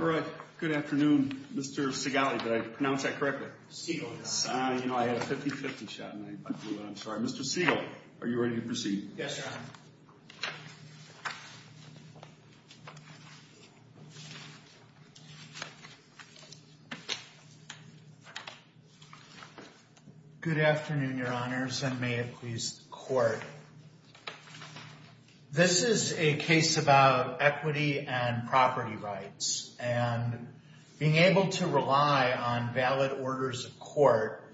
All right, good afternoon, Mr. Sigali. Did I pronounce that correctly? You know, I had a 50-50 shot and I blew it. I'm sorry. Mr. Sigali, are you ready to proceed? Yes, Your Honor. Good afternoon, Your Honors, and may it please the Court. This is a case about equity and property rights and being able to rely on valid orders of court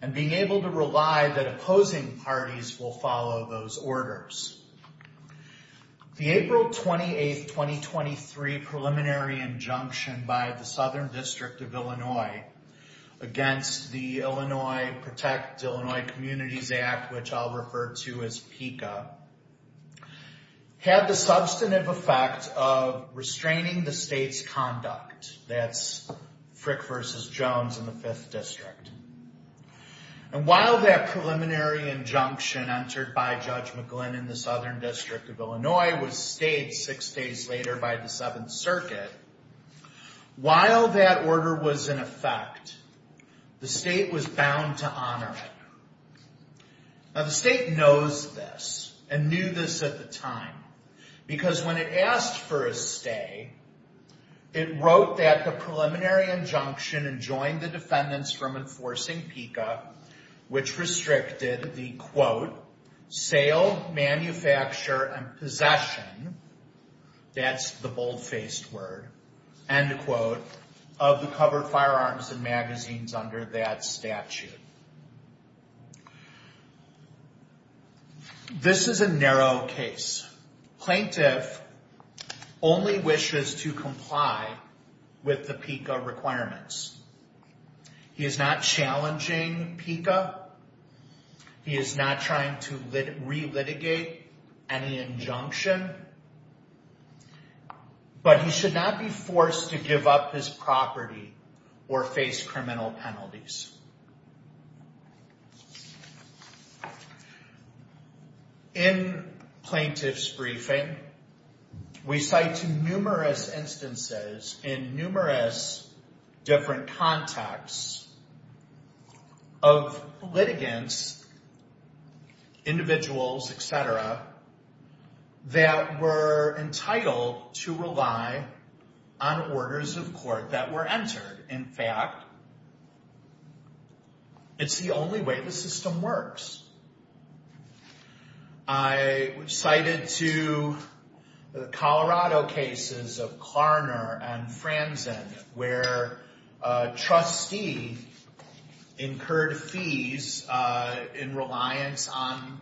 and being able to rely that opposing parties will follow those orders. The April 28, 2023 preliminary injunction by the Southern District of Illinois against the Illinois Protect Illinois Communities Act, which I'll refer to as PICA, had the substantive effect of restraining the state's conduct. That's Frick v. Jones in the Fifth District. And while that preliminary injunction entered by Judge McGlynn in the Southern District of Illinois was stayed six days later by the Seventh Circuit, while that order was in effect, the state was bound to honor it. Now, the state knows this and knew this at the time because when it asked for a stay, it wrote that the preliminary injunction enjoined the defendants from enforcing PICA, which restricted the, quote, sale, manufacture, and possession, that's the bold-faced word, end quote, of the covered firearms and magazines under that statute. This is a narrow case. Plaintiff only wishes to comply with the PICA requirements. He is not challenging PICA. He is not trying to relitigate any injunction. But he should not be forced to give up his property or face criminal penalties. In Plaintiff's briefing, we cite numerous instances in numerous different contexts of litigants, individuals, et cetera, that were entitled to rely on orders of court that were entered. In fact, it's the only way the system works. I cited two Colorado cases of Klarner and Franzen, where a trustee incurred fees in reliance on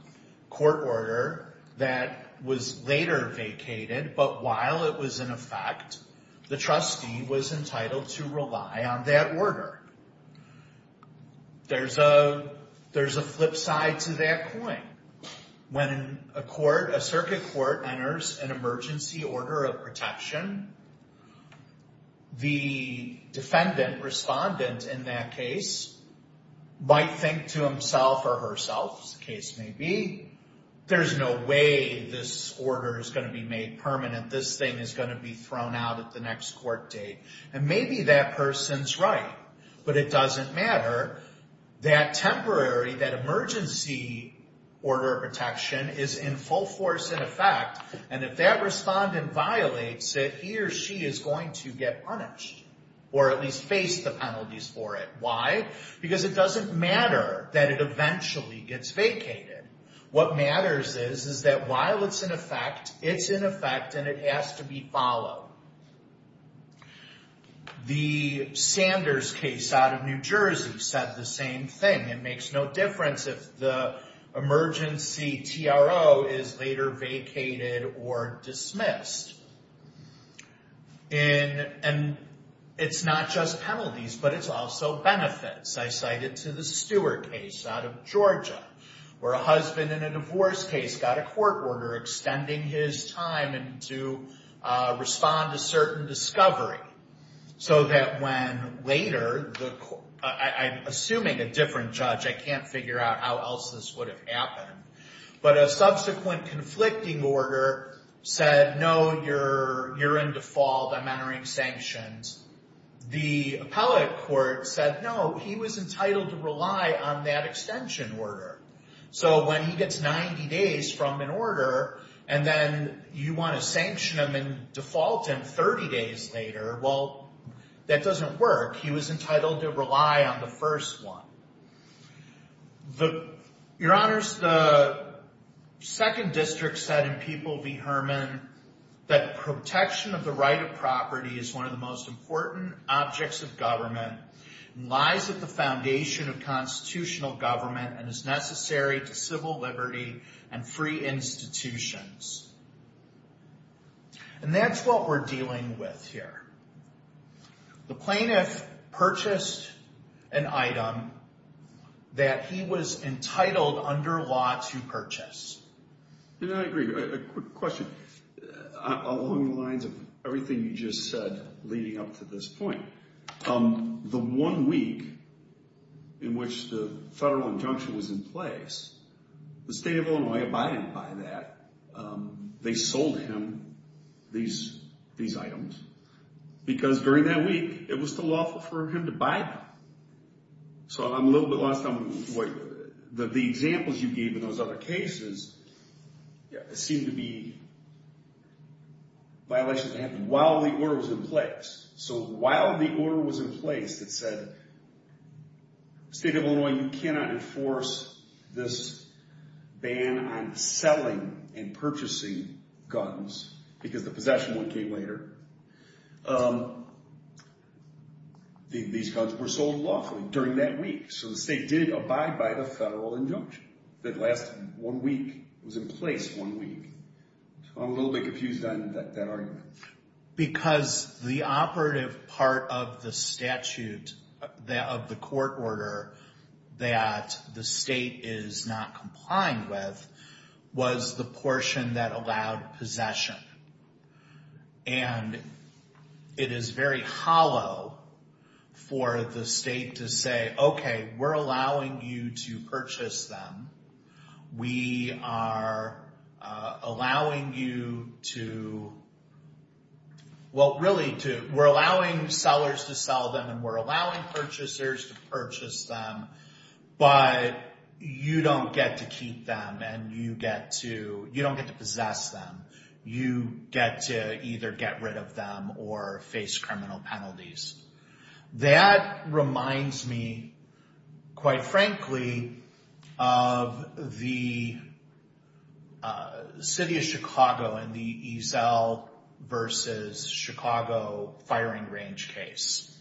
court order that was later vacated, but while it was in effect, the trustee was entitled to rely on that order. There's a flip side to that coin. When a court, a circuit court, enters an emergency order of protection, the defendant, respondent in that case, might think to himself or herself, as the case may be, there's no way this order is going to be made permanent. This thing is going to be thrown out at the next court date. And maybe that person's right, but it doesn't matter. That temporary, that emergency order of protection is in full force, in effect, and if that respondent violates it, he or she is going to get punished. Or at least face the penalties for it. Why? Because it doesn't matter that it eventually gets vacated. What matters is, is that while it's in effect, it's in effect and it has to be followed. The Sanders case out of New Jersey said the same thing. It makes no difference if the emergency TRO is later vacated or dismissed. And it's not just penalties, but it's also benefits. I cite it to the Stewart case out of Georgia, where a husband in a divorce case got a court order extending his time to respond to certain discovery, so that when later, I'm assuming a different judge, I can't figure out how else this would have happened. But a subsequent conflicting order said, no, you're in default, I'm entering sanctions. The appellate court said, no, he was entitled to rely on that extension order. So when he gets 90 days from an order, and then you want to sanction him and default him 30 days later, well, that doesn't work. He was entitled to rely on the first one. Your Honors, the second district said in People v. Herman that protection of the right of property is one of the most important objects of government, lies at the foundation of constitutional government, and is necessary to civil liberty and free institutions. And that's what we're dealing with here. The plaintiff purchased an item that he was entitled under law to purchase. And I agree. A quick question. Along the lines of everything you just said leading up to this point, the one week in which the federal injunction was in place, the state of Illinois abided by that. They sold him these items. Because during that week, it was still lawful for him to buy them. So I'm a little bit lost on what the examples you gave in those other cases seem to be violations that happened while the order was in place. So while the order was in place that said, State of Illinois, you cannot enforce this ban on selling and purchasing guns, because the possession one came later, these guns were sold lawfully during that week. So the state did abide by the federal injunction that lasted one week, was in place one week. So I'm a little bit confused on that argument. Because the operative part of the statute, of the court order, that the state is not complying with, was the portion that allowed possession. And it is very hollow for the state to say, okay, we're allowing you to purchase them. We are allowing you to, well, really, we're allowing sellers to sell them and we're allowing purchasers to purchase them. But you don't get to keep them and you don't get to possess them. You get to either get rid of them or face criminal penalties. That reminds me, quite frankly, of the city of Chicago and the Eazell versus Chicago firing range case.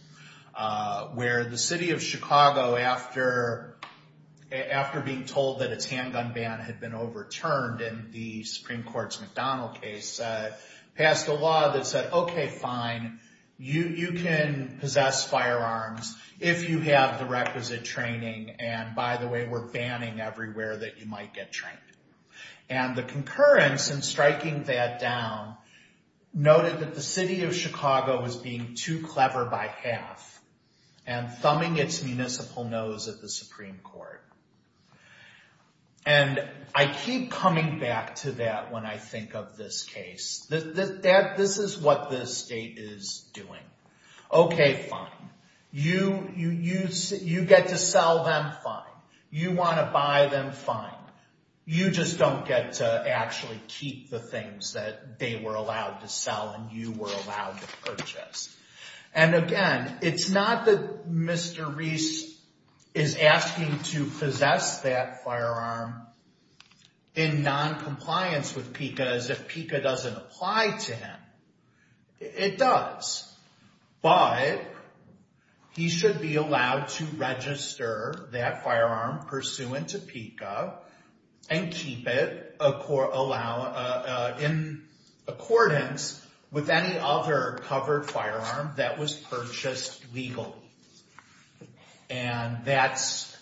Where the city of Chicago, after being told that its handgun ban had been overturned in the Supreme Court's McDonald case, passed a law that said, okay, fine. You can possess firearms if you have the requisite training. And by the way, we're banning everywhere that you might get trained. And the concurrence in striking that down noted that the city of Chicago was being too clever by half and thumbing its municipal nose at the Supreme Court. And I keep coming back to that when I think of this case. This is what the state is doing. Okay, fine. You get to sell them, fine. You want to buy them, fine. You just don't get to actually keep the things that they were allowed to sell and you were allowed to purchase. And again, it's not that Mr. Reese is asking to possess that firearm in noncompliance with PICA as if PICA doesn't apply to him. It does. But he should be allowed to register that firearm pursuant to PICA and keep it in accordance with any other covered firearm that was purchased legally. And that's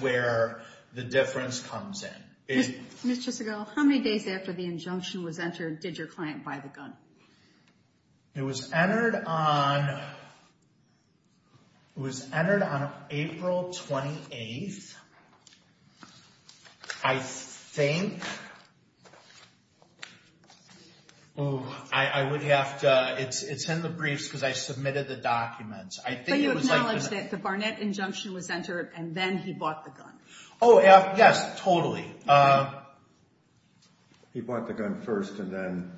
where the difference comes in. Ms. Chisagel, how many days after the injunction was entered did your client buy the gun? It was entered on April 28th. I think, I would have to, it's in the briefs because I submitted the documents. But you acknowledged that the Barnett injunction was entered and then he bought the gun. Oh, yes, totally. He bought the gun first and then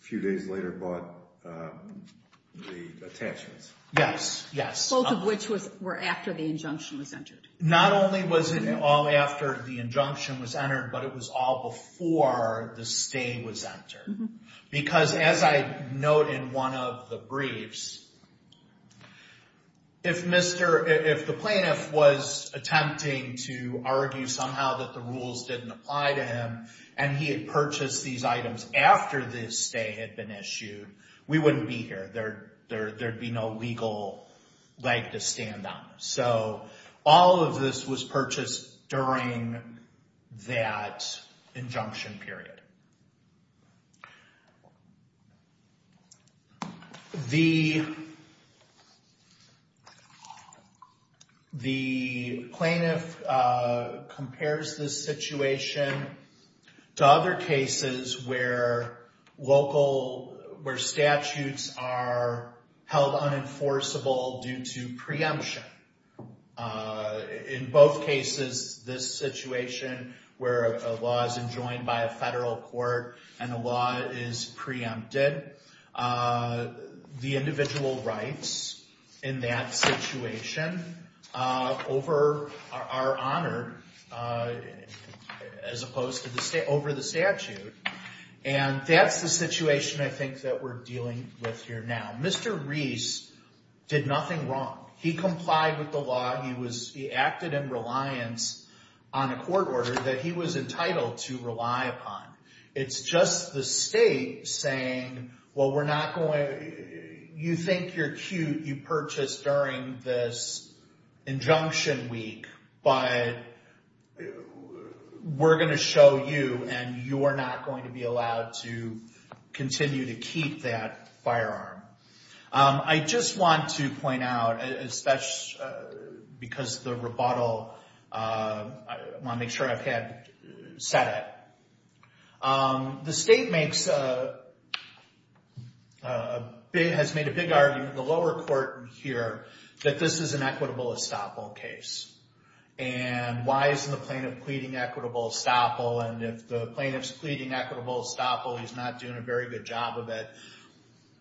a few days later bought the attachments. Yes, yes. Both of which were after the injunction was entered. Not only was it all after the injunction was entered, but it was all before the stay was entered. Because as I note in one of the briefs, if the plaintiff was attempting to argue somehow that the rules didn't apply to him and he had purchased these items after the stay had been issued, we wouldn't be here. There'd be no legal leg to stand on. So all of this was purchased during that injunction period. The plaintiff compares this situation to other cases where local, where statutes are held unenforceable due to preemption. In both cases, this situation where a law is enjoined by a federal court and the law is preempted, the individual rights in that situation are honored as opposed to over the statute. And that's the situation I think that we're dealing with here now. Mr. Reese did nothing wrong. He complied with the law. He acted in reliance on a court order that he was entitled to rely upon. It's just the state saying, well, you think you're cute, you purchased during this injunction week, but we're going to show you and you are not going to be allowed to continue to keep that firearm. I just want to point out, because of the rebuttal, I want to make sure I've said it. The state has made a big argument in the lower court here that this is an equitable estoppel case. And why isn't the plaintiff pleading equitable estoppel? And if the plaintiff's pleading equitable estoppel, he's not doing a very good job of it.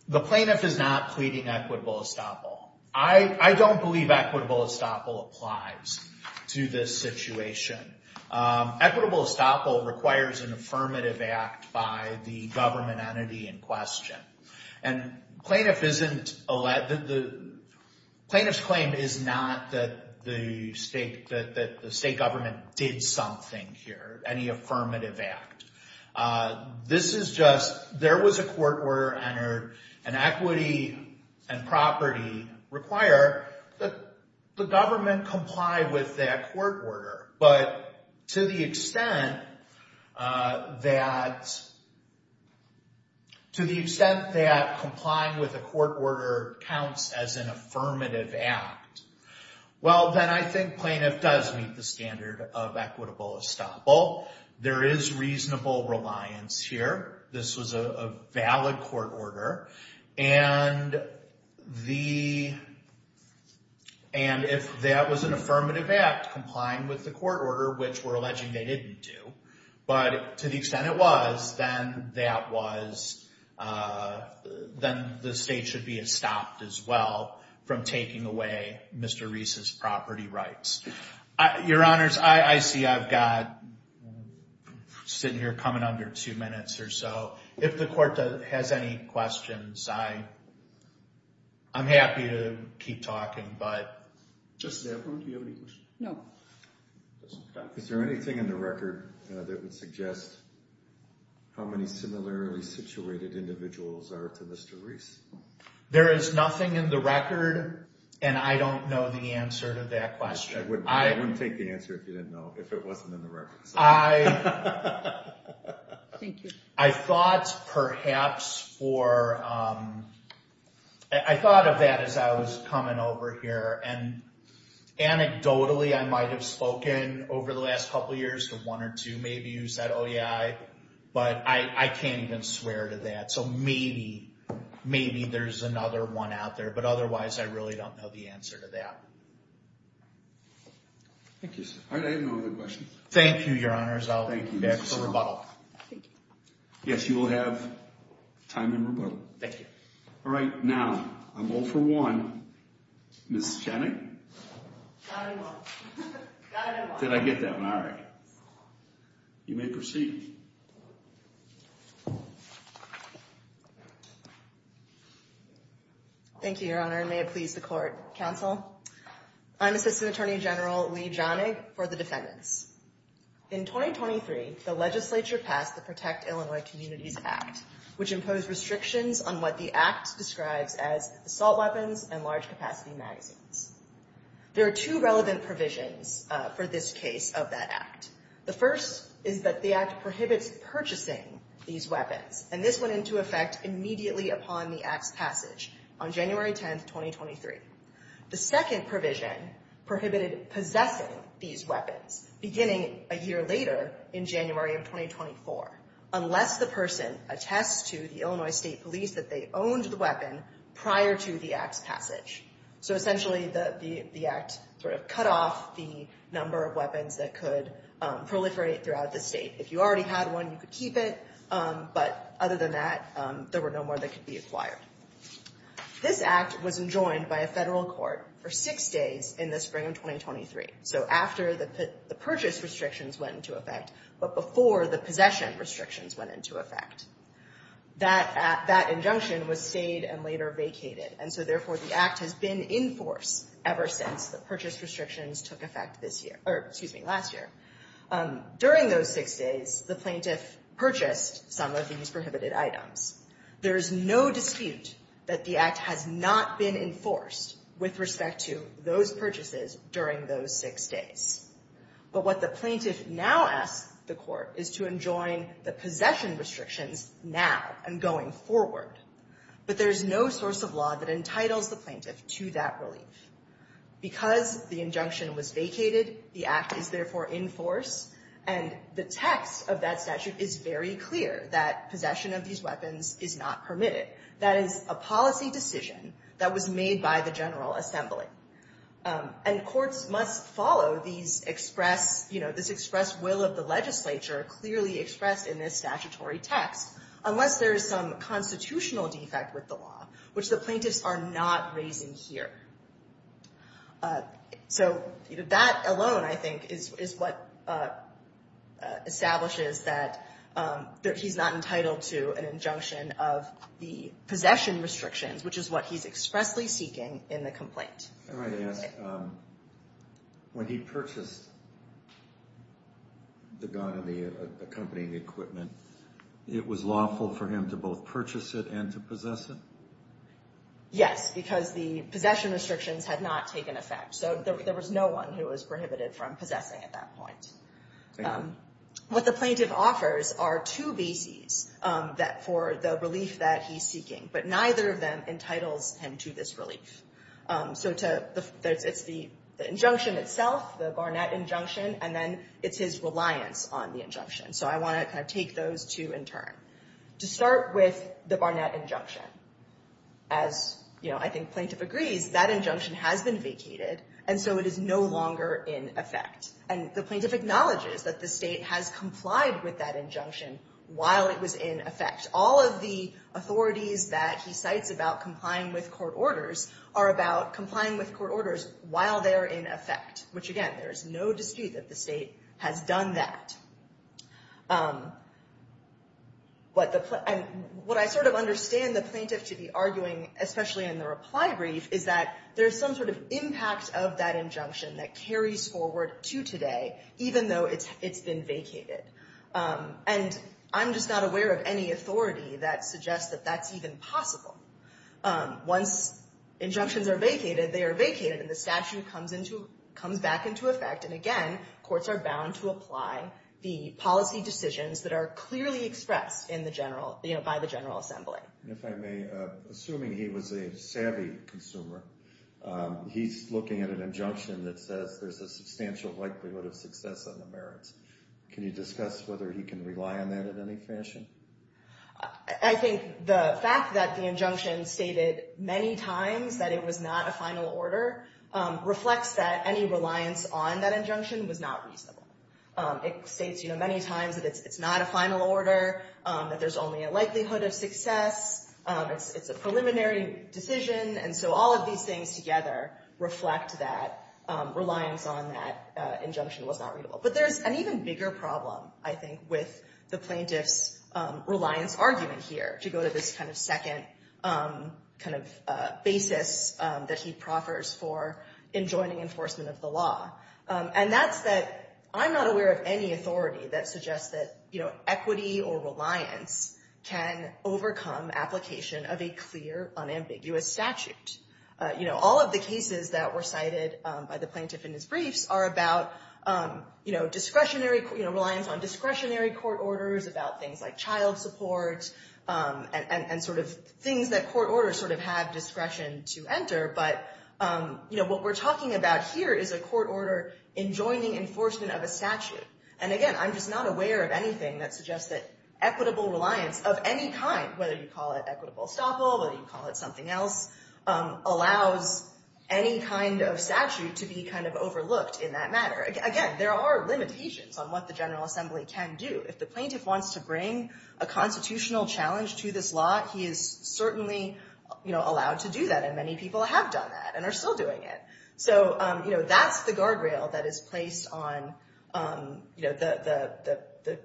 The plaintiff is not pleading equitable estoppel. I don't believe equitable estoppel applies to this situation. Equitable estoppel requires an affirmative act by the government entity in question. And plaintiff's claim is not that the state government did something here, any affirmative act. This is just, there was a court order entered, and equity and property require that the government comply with that court order. But to the extent that complying with a court order counts as an affirmative act, well, then I think plaintiff does meet the standard of equitable estoppel. There is reasonable reliance here. This was a valid court order. And if that was an affirmative act, complying with the court order, which we're alleging they didn't do, but to the extent it was, then the state should be estopped as well from taking away Mr. Reese's property rights. Your Honors, I see I've got, sitting here coming under two minutes or so. If the court has any questions, I'm happy to keep talking, but. Just, do you have any questions? No. Is there anything in the record that would suggest how many similarly situated individuals are to Mr. Reese? There is nothing in the record, and I don't know the answer to that question. I wouldn't take the answer if you didn't know, if it wasn't in the record. I thought perhaps for, I thought of that as I was coming over here, and anecdotally I might have spoken over the last couple years to one or two maybe who said, oh yeah, but I can't even swear to that, so maybe, maybe there's another one out there, but otherwise I really don't know the answer to that. Thank you, sir. All right, I have no other questions. Thank you, Your Honors. I'll back for rebuttal. Thank you. Yes, you will have time and rebuttal. Thank you. All right, now, I'm all for one. Ms. Chenik? Got it, I won't. Did I get that one? All right. You may proceed. Thank you, Your Honor, and may it please the court. Counsel, I'm Assistant Attorney General Leigh Johnig for the defendants. In 2023, the legislature passed the Protect Illinois Communities Act, which imposed restrictions on what the act describes as assault weapons and large capacity magazines. There are two relevant provisions for this case of that act. The first is that the act prohibits purchasing these weapons, and this went into effect immediately upon the act's passage on January 10, 2023. The second provision prohibited possessing these weapons beginning a year later in January of 2024, unless the person attests to the Illinois State Police that they owned the weapon prior to the act's passage. So essentially, the act sort of cut off the number of weapons that could proliferate throughout the state. If you already had one, you could keep it, but other than that, there were no more that could be acquired. This act was enjoined by a federal court for six days in the spring of 2023, so after the purchase restrictions went into effect, but before the possession restrictions went into effect. That injunction was stayed and later vacated, and so therefore the act has been in force ever since the purchase restrictions took effect this year. Or excuse me, last year. During those six days, the plaintiff purchased some of these prohibited items. There is no dispute that the act has not been enforced with respect to those purchases during those six days. But what the plaintiff now asks the court is to enjoin the possession restrictions now and going forward. But there is no source of law that entitles the plaintiff to that relief. Because the injunction was vacated, the act is therefore in force, and the text of that statute is very clear that possession of these weapons is not permitted. That is a policy decision that was made by the General Assembly. And courts must follow these express, you know, this express will of the legislature clearly expressed in this statutory text, unless there is some constitutional defect with the law, which the plaintiffs are not raising here. So that alone, I think, is what establishes that he's not entitled to an injunction of the possession restrictions, which is what he's expressly seeking in the complaint. I wanted to ask, when he purchased the gun and the accompanying equipment, it was lawful for him to both purchase it and to possess it? Yes, because the possession restrictions had not taken effect. So there was no one who was prohibited from possessing at that point. What the plaintiff offers are two bases for the relief that he's seeking, but neither of them entitles him to this relief. So it's the injunction itself, the Barnett injunction, and then it's his reliance on the injunction. So I want to kind of take those two in turn. To start with the Barnett injunction, as, you know, I think plaintiff agrees, that injunction has been vacated, and so it is no longer in effect. And the plaintiff acknowledges that the State has complied with that injunction while it was in effect. All of the authorities that he cites about complying with court orders are about complying with court orders while they're in effect, which, again, there is no dispute that the State has done that. What I sort of understand the plaintiff to be arguing, especially in the reply brief, is that there's some sort of impact of that injunction that carries forward to today, even though it's been vacated. And I'm just not aware of any authority that suggests that that's even possible. Once injunctions are vacated, they are vacated, and the statute comes back into effect. And again, courts are bound to apply the policy decisions that are clearly expressed by the General Assembly. If I may, assuming he was a savvy consumer, he's looking at an injunction that says there's a substantial likelihood of success on the merits. Can you discuss whether he can rely on that in any fashion? I think the fact that the injunction stated many times that it was not a final order reflects that any reliance on that injunction was not reasonable. It states many times that it's not a final order, that there's only a likelihood of success. It's a preliminary decision. And so all of these things together reflect that reliance on that injunction was not readable. But there's an even bigger problem, I think, with the plaintiff's reliance argument here, to go to this kind of second basis that he proffers for enjoining enforcement of the law. And that's that I'm not aware of any authority that suggests that equity or reliance can overcome application of a clear, unambiguous statute. All of the cases that were cited by the plaintiff in his briefs are about reliance on discretionary court orders, about things like child support, and sort of things that court orders sort of have discretion to enter. But what we're talking about here is a court order enjoining enforcement of a statute. And again, I'm just not aware of anything that suggests that equitable reliance of any kind, whether you call it equitable estoppel, whether you call it something else, allows any kind of statute to be kind of overlooked in that matter. Again, there are limitations on what the General Assembly can do. If the plaintiff wants to bring a constitutional challenge to this law, he is certainly allowed to do that. And many people have done that and are still doing it. So that's the guardrail that is placed on the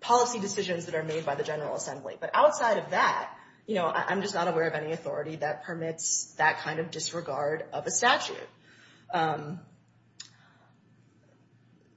policy decisions that are made by the General Assembly. But outside of that, you know, I'm just not aware of any authority that permits that kind of disregard of a statute.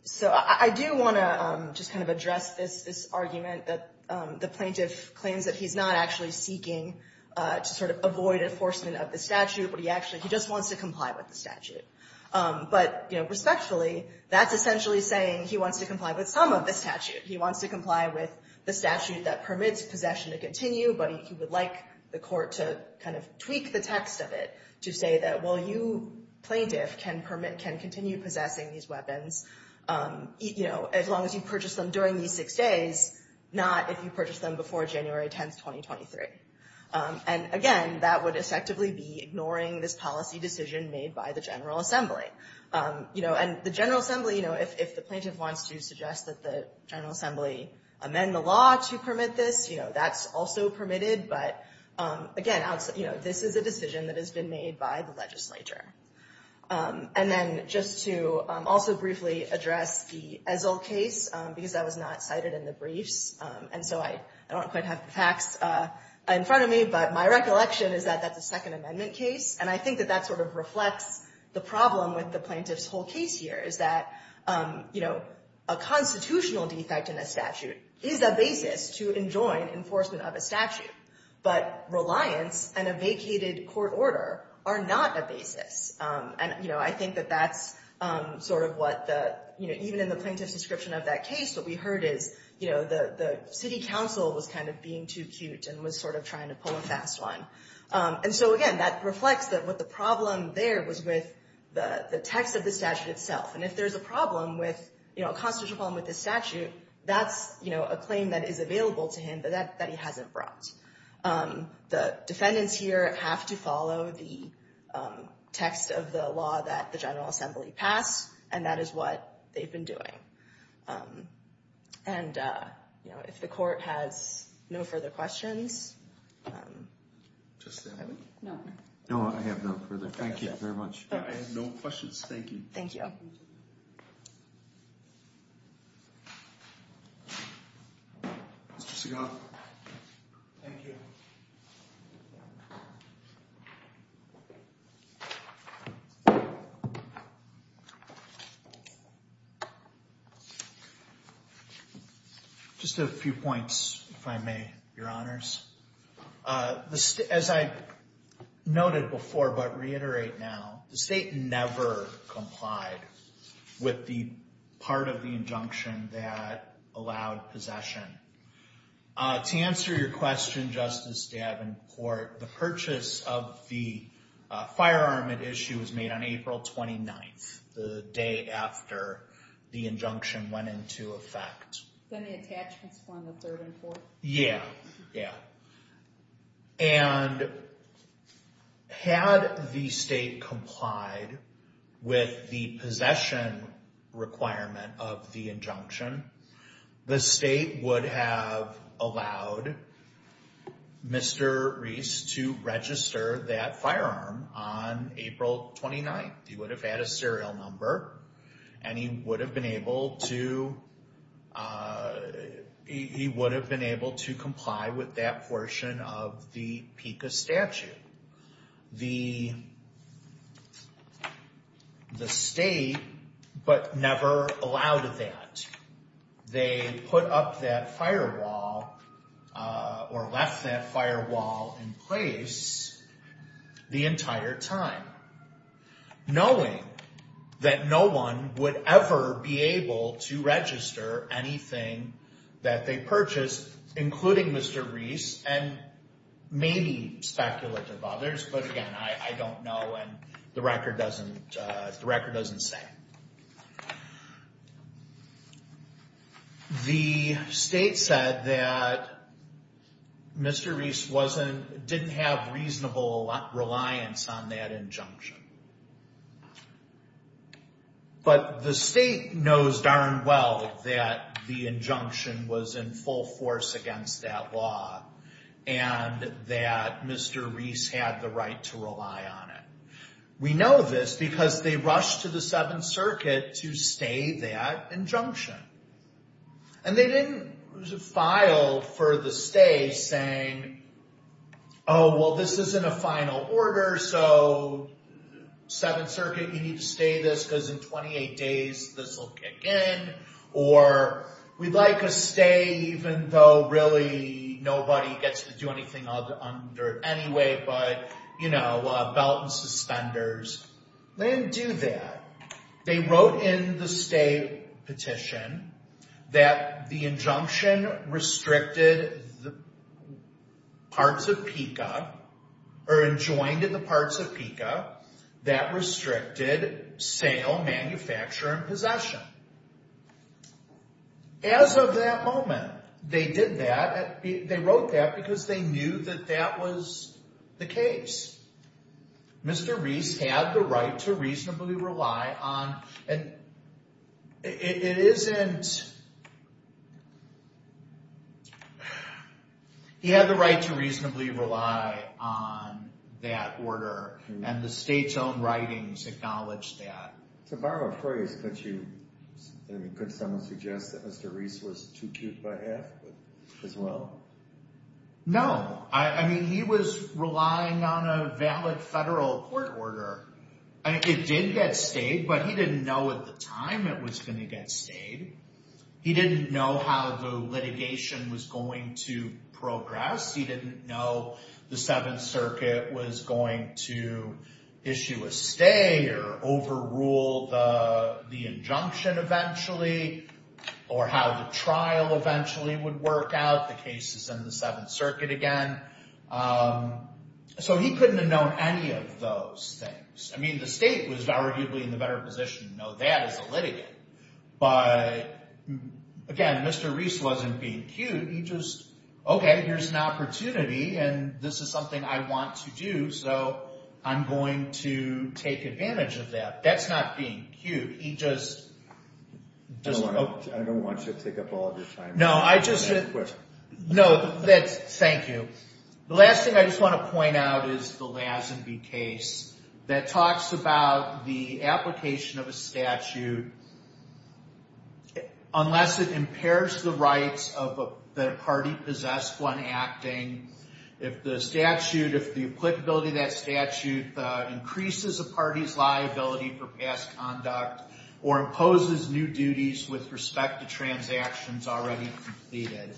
So I do want to just kind of address this argument that the plaintiff claims that he's not actually seeking to sort of avoid enforcement of the statute, but he actually just wants to comply with the statute. But, you know, respectfully, that's essentially saying he wants to comply with some of the statute. He wants to comply with the statute that permits possession to continue, but he would like the court to kind of tweak the text of it to say that, well, you plaintiff can permit, can continue possessing these weapons, you know, as long as you purchase them during these six days, not if you purchase them before January 10th, 2023. And, again, that would effectively be ignoring this policy decision made by the General Assembly. You know, and the General Assembly, you know, if the plaintiff wants to suggest that the General Assembly amend the law to permit this, you know, that's also permitted. But, again, you know, this is a decision that has been made by the legislature. And then just to also briefly address the Ezell case, because that was not cited in the briefs, and so I don't quite have the facts in front of me, but my recollection is that that's a Second Amendment case. And I think that that sort of reflects the problem with the plaintiff's whole case here is that, you know, a constitutional defect in a statute is a basis to enjoin enforcement of a statute. But reliance and a vacated court order are not a basis. And, you know, I think that that's sort of what the, you know, even in the plaintiff's description of that case, what we heard is, you know, the city council was kind of being too cute and was sort of trying to pull a fast one. And so, again, that reflects that what the problem there was with the text of the statute itself. And if there's a problem with, you know, a constitutional problem with the statute, that's, you know, a claim that is available to him, but that he hasn't brought. The defendants here have to follow the text of the law that the General Assembly passed, and that is what they've been doing. And, you know, if the court has no further questions. No, I have no further. Thank you very much. I have no questions. Thank you. Thank you. Mr. Seagal. Thank you. Just a few points, if I may, Your Honors. As I noted before, but reiterate now, the state never complied with the part of the injunction that allowed possession. To answer your question, Justice Davenport, the purchase of the firearm at issue was made on April 29th, the day after the injunction went into effect. Then the attachments form the third and fourth? Yeah, yeah. And had the state complied with the possession requirement of the injunction, the state would have allowed Mr. Reese to register that firearm on April 29th. He would have had a serial number, and he would have been able to comply with that portion of the PICA statute. The state, but never allowed that. They put up that firewall or left that firewall in place the entire time. Knowing that no one would ever be able to register anything that they purchased, including Mr. Reese and maybe speculative others, but again, I don't know and the record doesn't say. The state said that Mr. Reese didn't have reasonable reliance on that injunction. But the state knows darn well that the injunction was in full force against that law, and that Mr. Reese had the right to rely on it. We know this because they rushed to the Seventh Circuit to stay that injunction. And they didn't file for the stay saying, oh, well, this isn't a final order, so Seventh Circuit, you need to stay this because in 28 days this will kick in, or we'd like a stay even though really nobody gets to do anything under it anyway, but, you know, belt and suspenders. They didn't do that. They wrote in the stay petition that the injunction restricted parts of PICA, or enjoined the parts of PICA that restricted sale, manufacture, and possession. As of that moment, they did that. They wrote that because they knew that that was the case. Mr. Reese had the right to reasonably rely on it. It isn't, he had the right to reasonably rely on that order, and the state's own writings acknowledge that. To borrow a phrase, could someone suggest that Mr. Reese was too cute by half as well? No. I mean, he was relying on a valid federal court order. It did get stayed, but he didn't know at the time it was going to get stayed. He didn't know how the litigation was going to progress. He didn't know the Seventh Circuit was going to issue a stay or overrule the injunction eventually, or how the trial eventually would work out. The case is in the Seventh Circuit again. So he couldn't have known any of those things. I mean, the state was arguably in the better position to know that as a litigant, but, again, Mr. Reese wasn't being cute. He just, okay, here's an opportunity, and this is something I want to do, so I'm going to take advantage of that. That's not being cute. I don't want you to take up all of your time. No, thank you. The last thing I just want to point out is the Lazenby case that talks about the application of a statute unless it impairs the rights that a party possessed when acting. If the applicability of that statute increases a party's liability for past conduct or imposes new duties with respect to transactions already completed,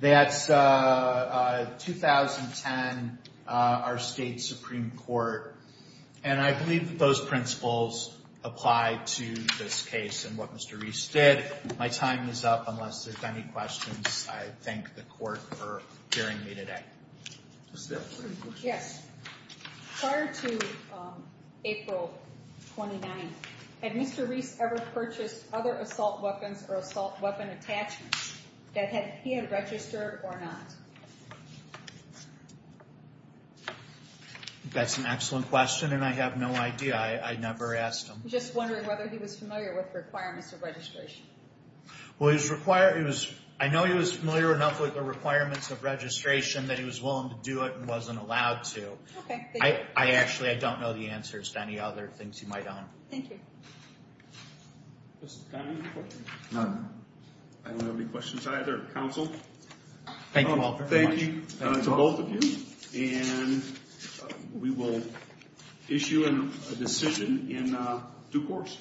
that's 2010, our state Supreme Court, and I believe that those principles apply to this case and what Mr. Reese did. My time is up. Unless there's any questions, I thank the court for hearing me today. Ms. Stillman? Yes. Prior to April 29th, had Mr. Reese ever purchased other assault weapons or assault weapon attachments that he had registered or not? That's an excellent question, and I have no idea. I never asked him. I'm just wondering whether he was familiar with requirements of registration. Well, I know he was familiar enough with the requirements of registration that he was willing to do it and wasn't allowed to. Okay, thank you. Actually, I don't know the answers to any other things you might own. Thank you. Mr. Connolly? None. I don't have any questions either. Counsel? Thank you all very much. Thank you to both of you, and we will issue a decision in due course.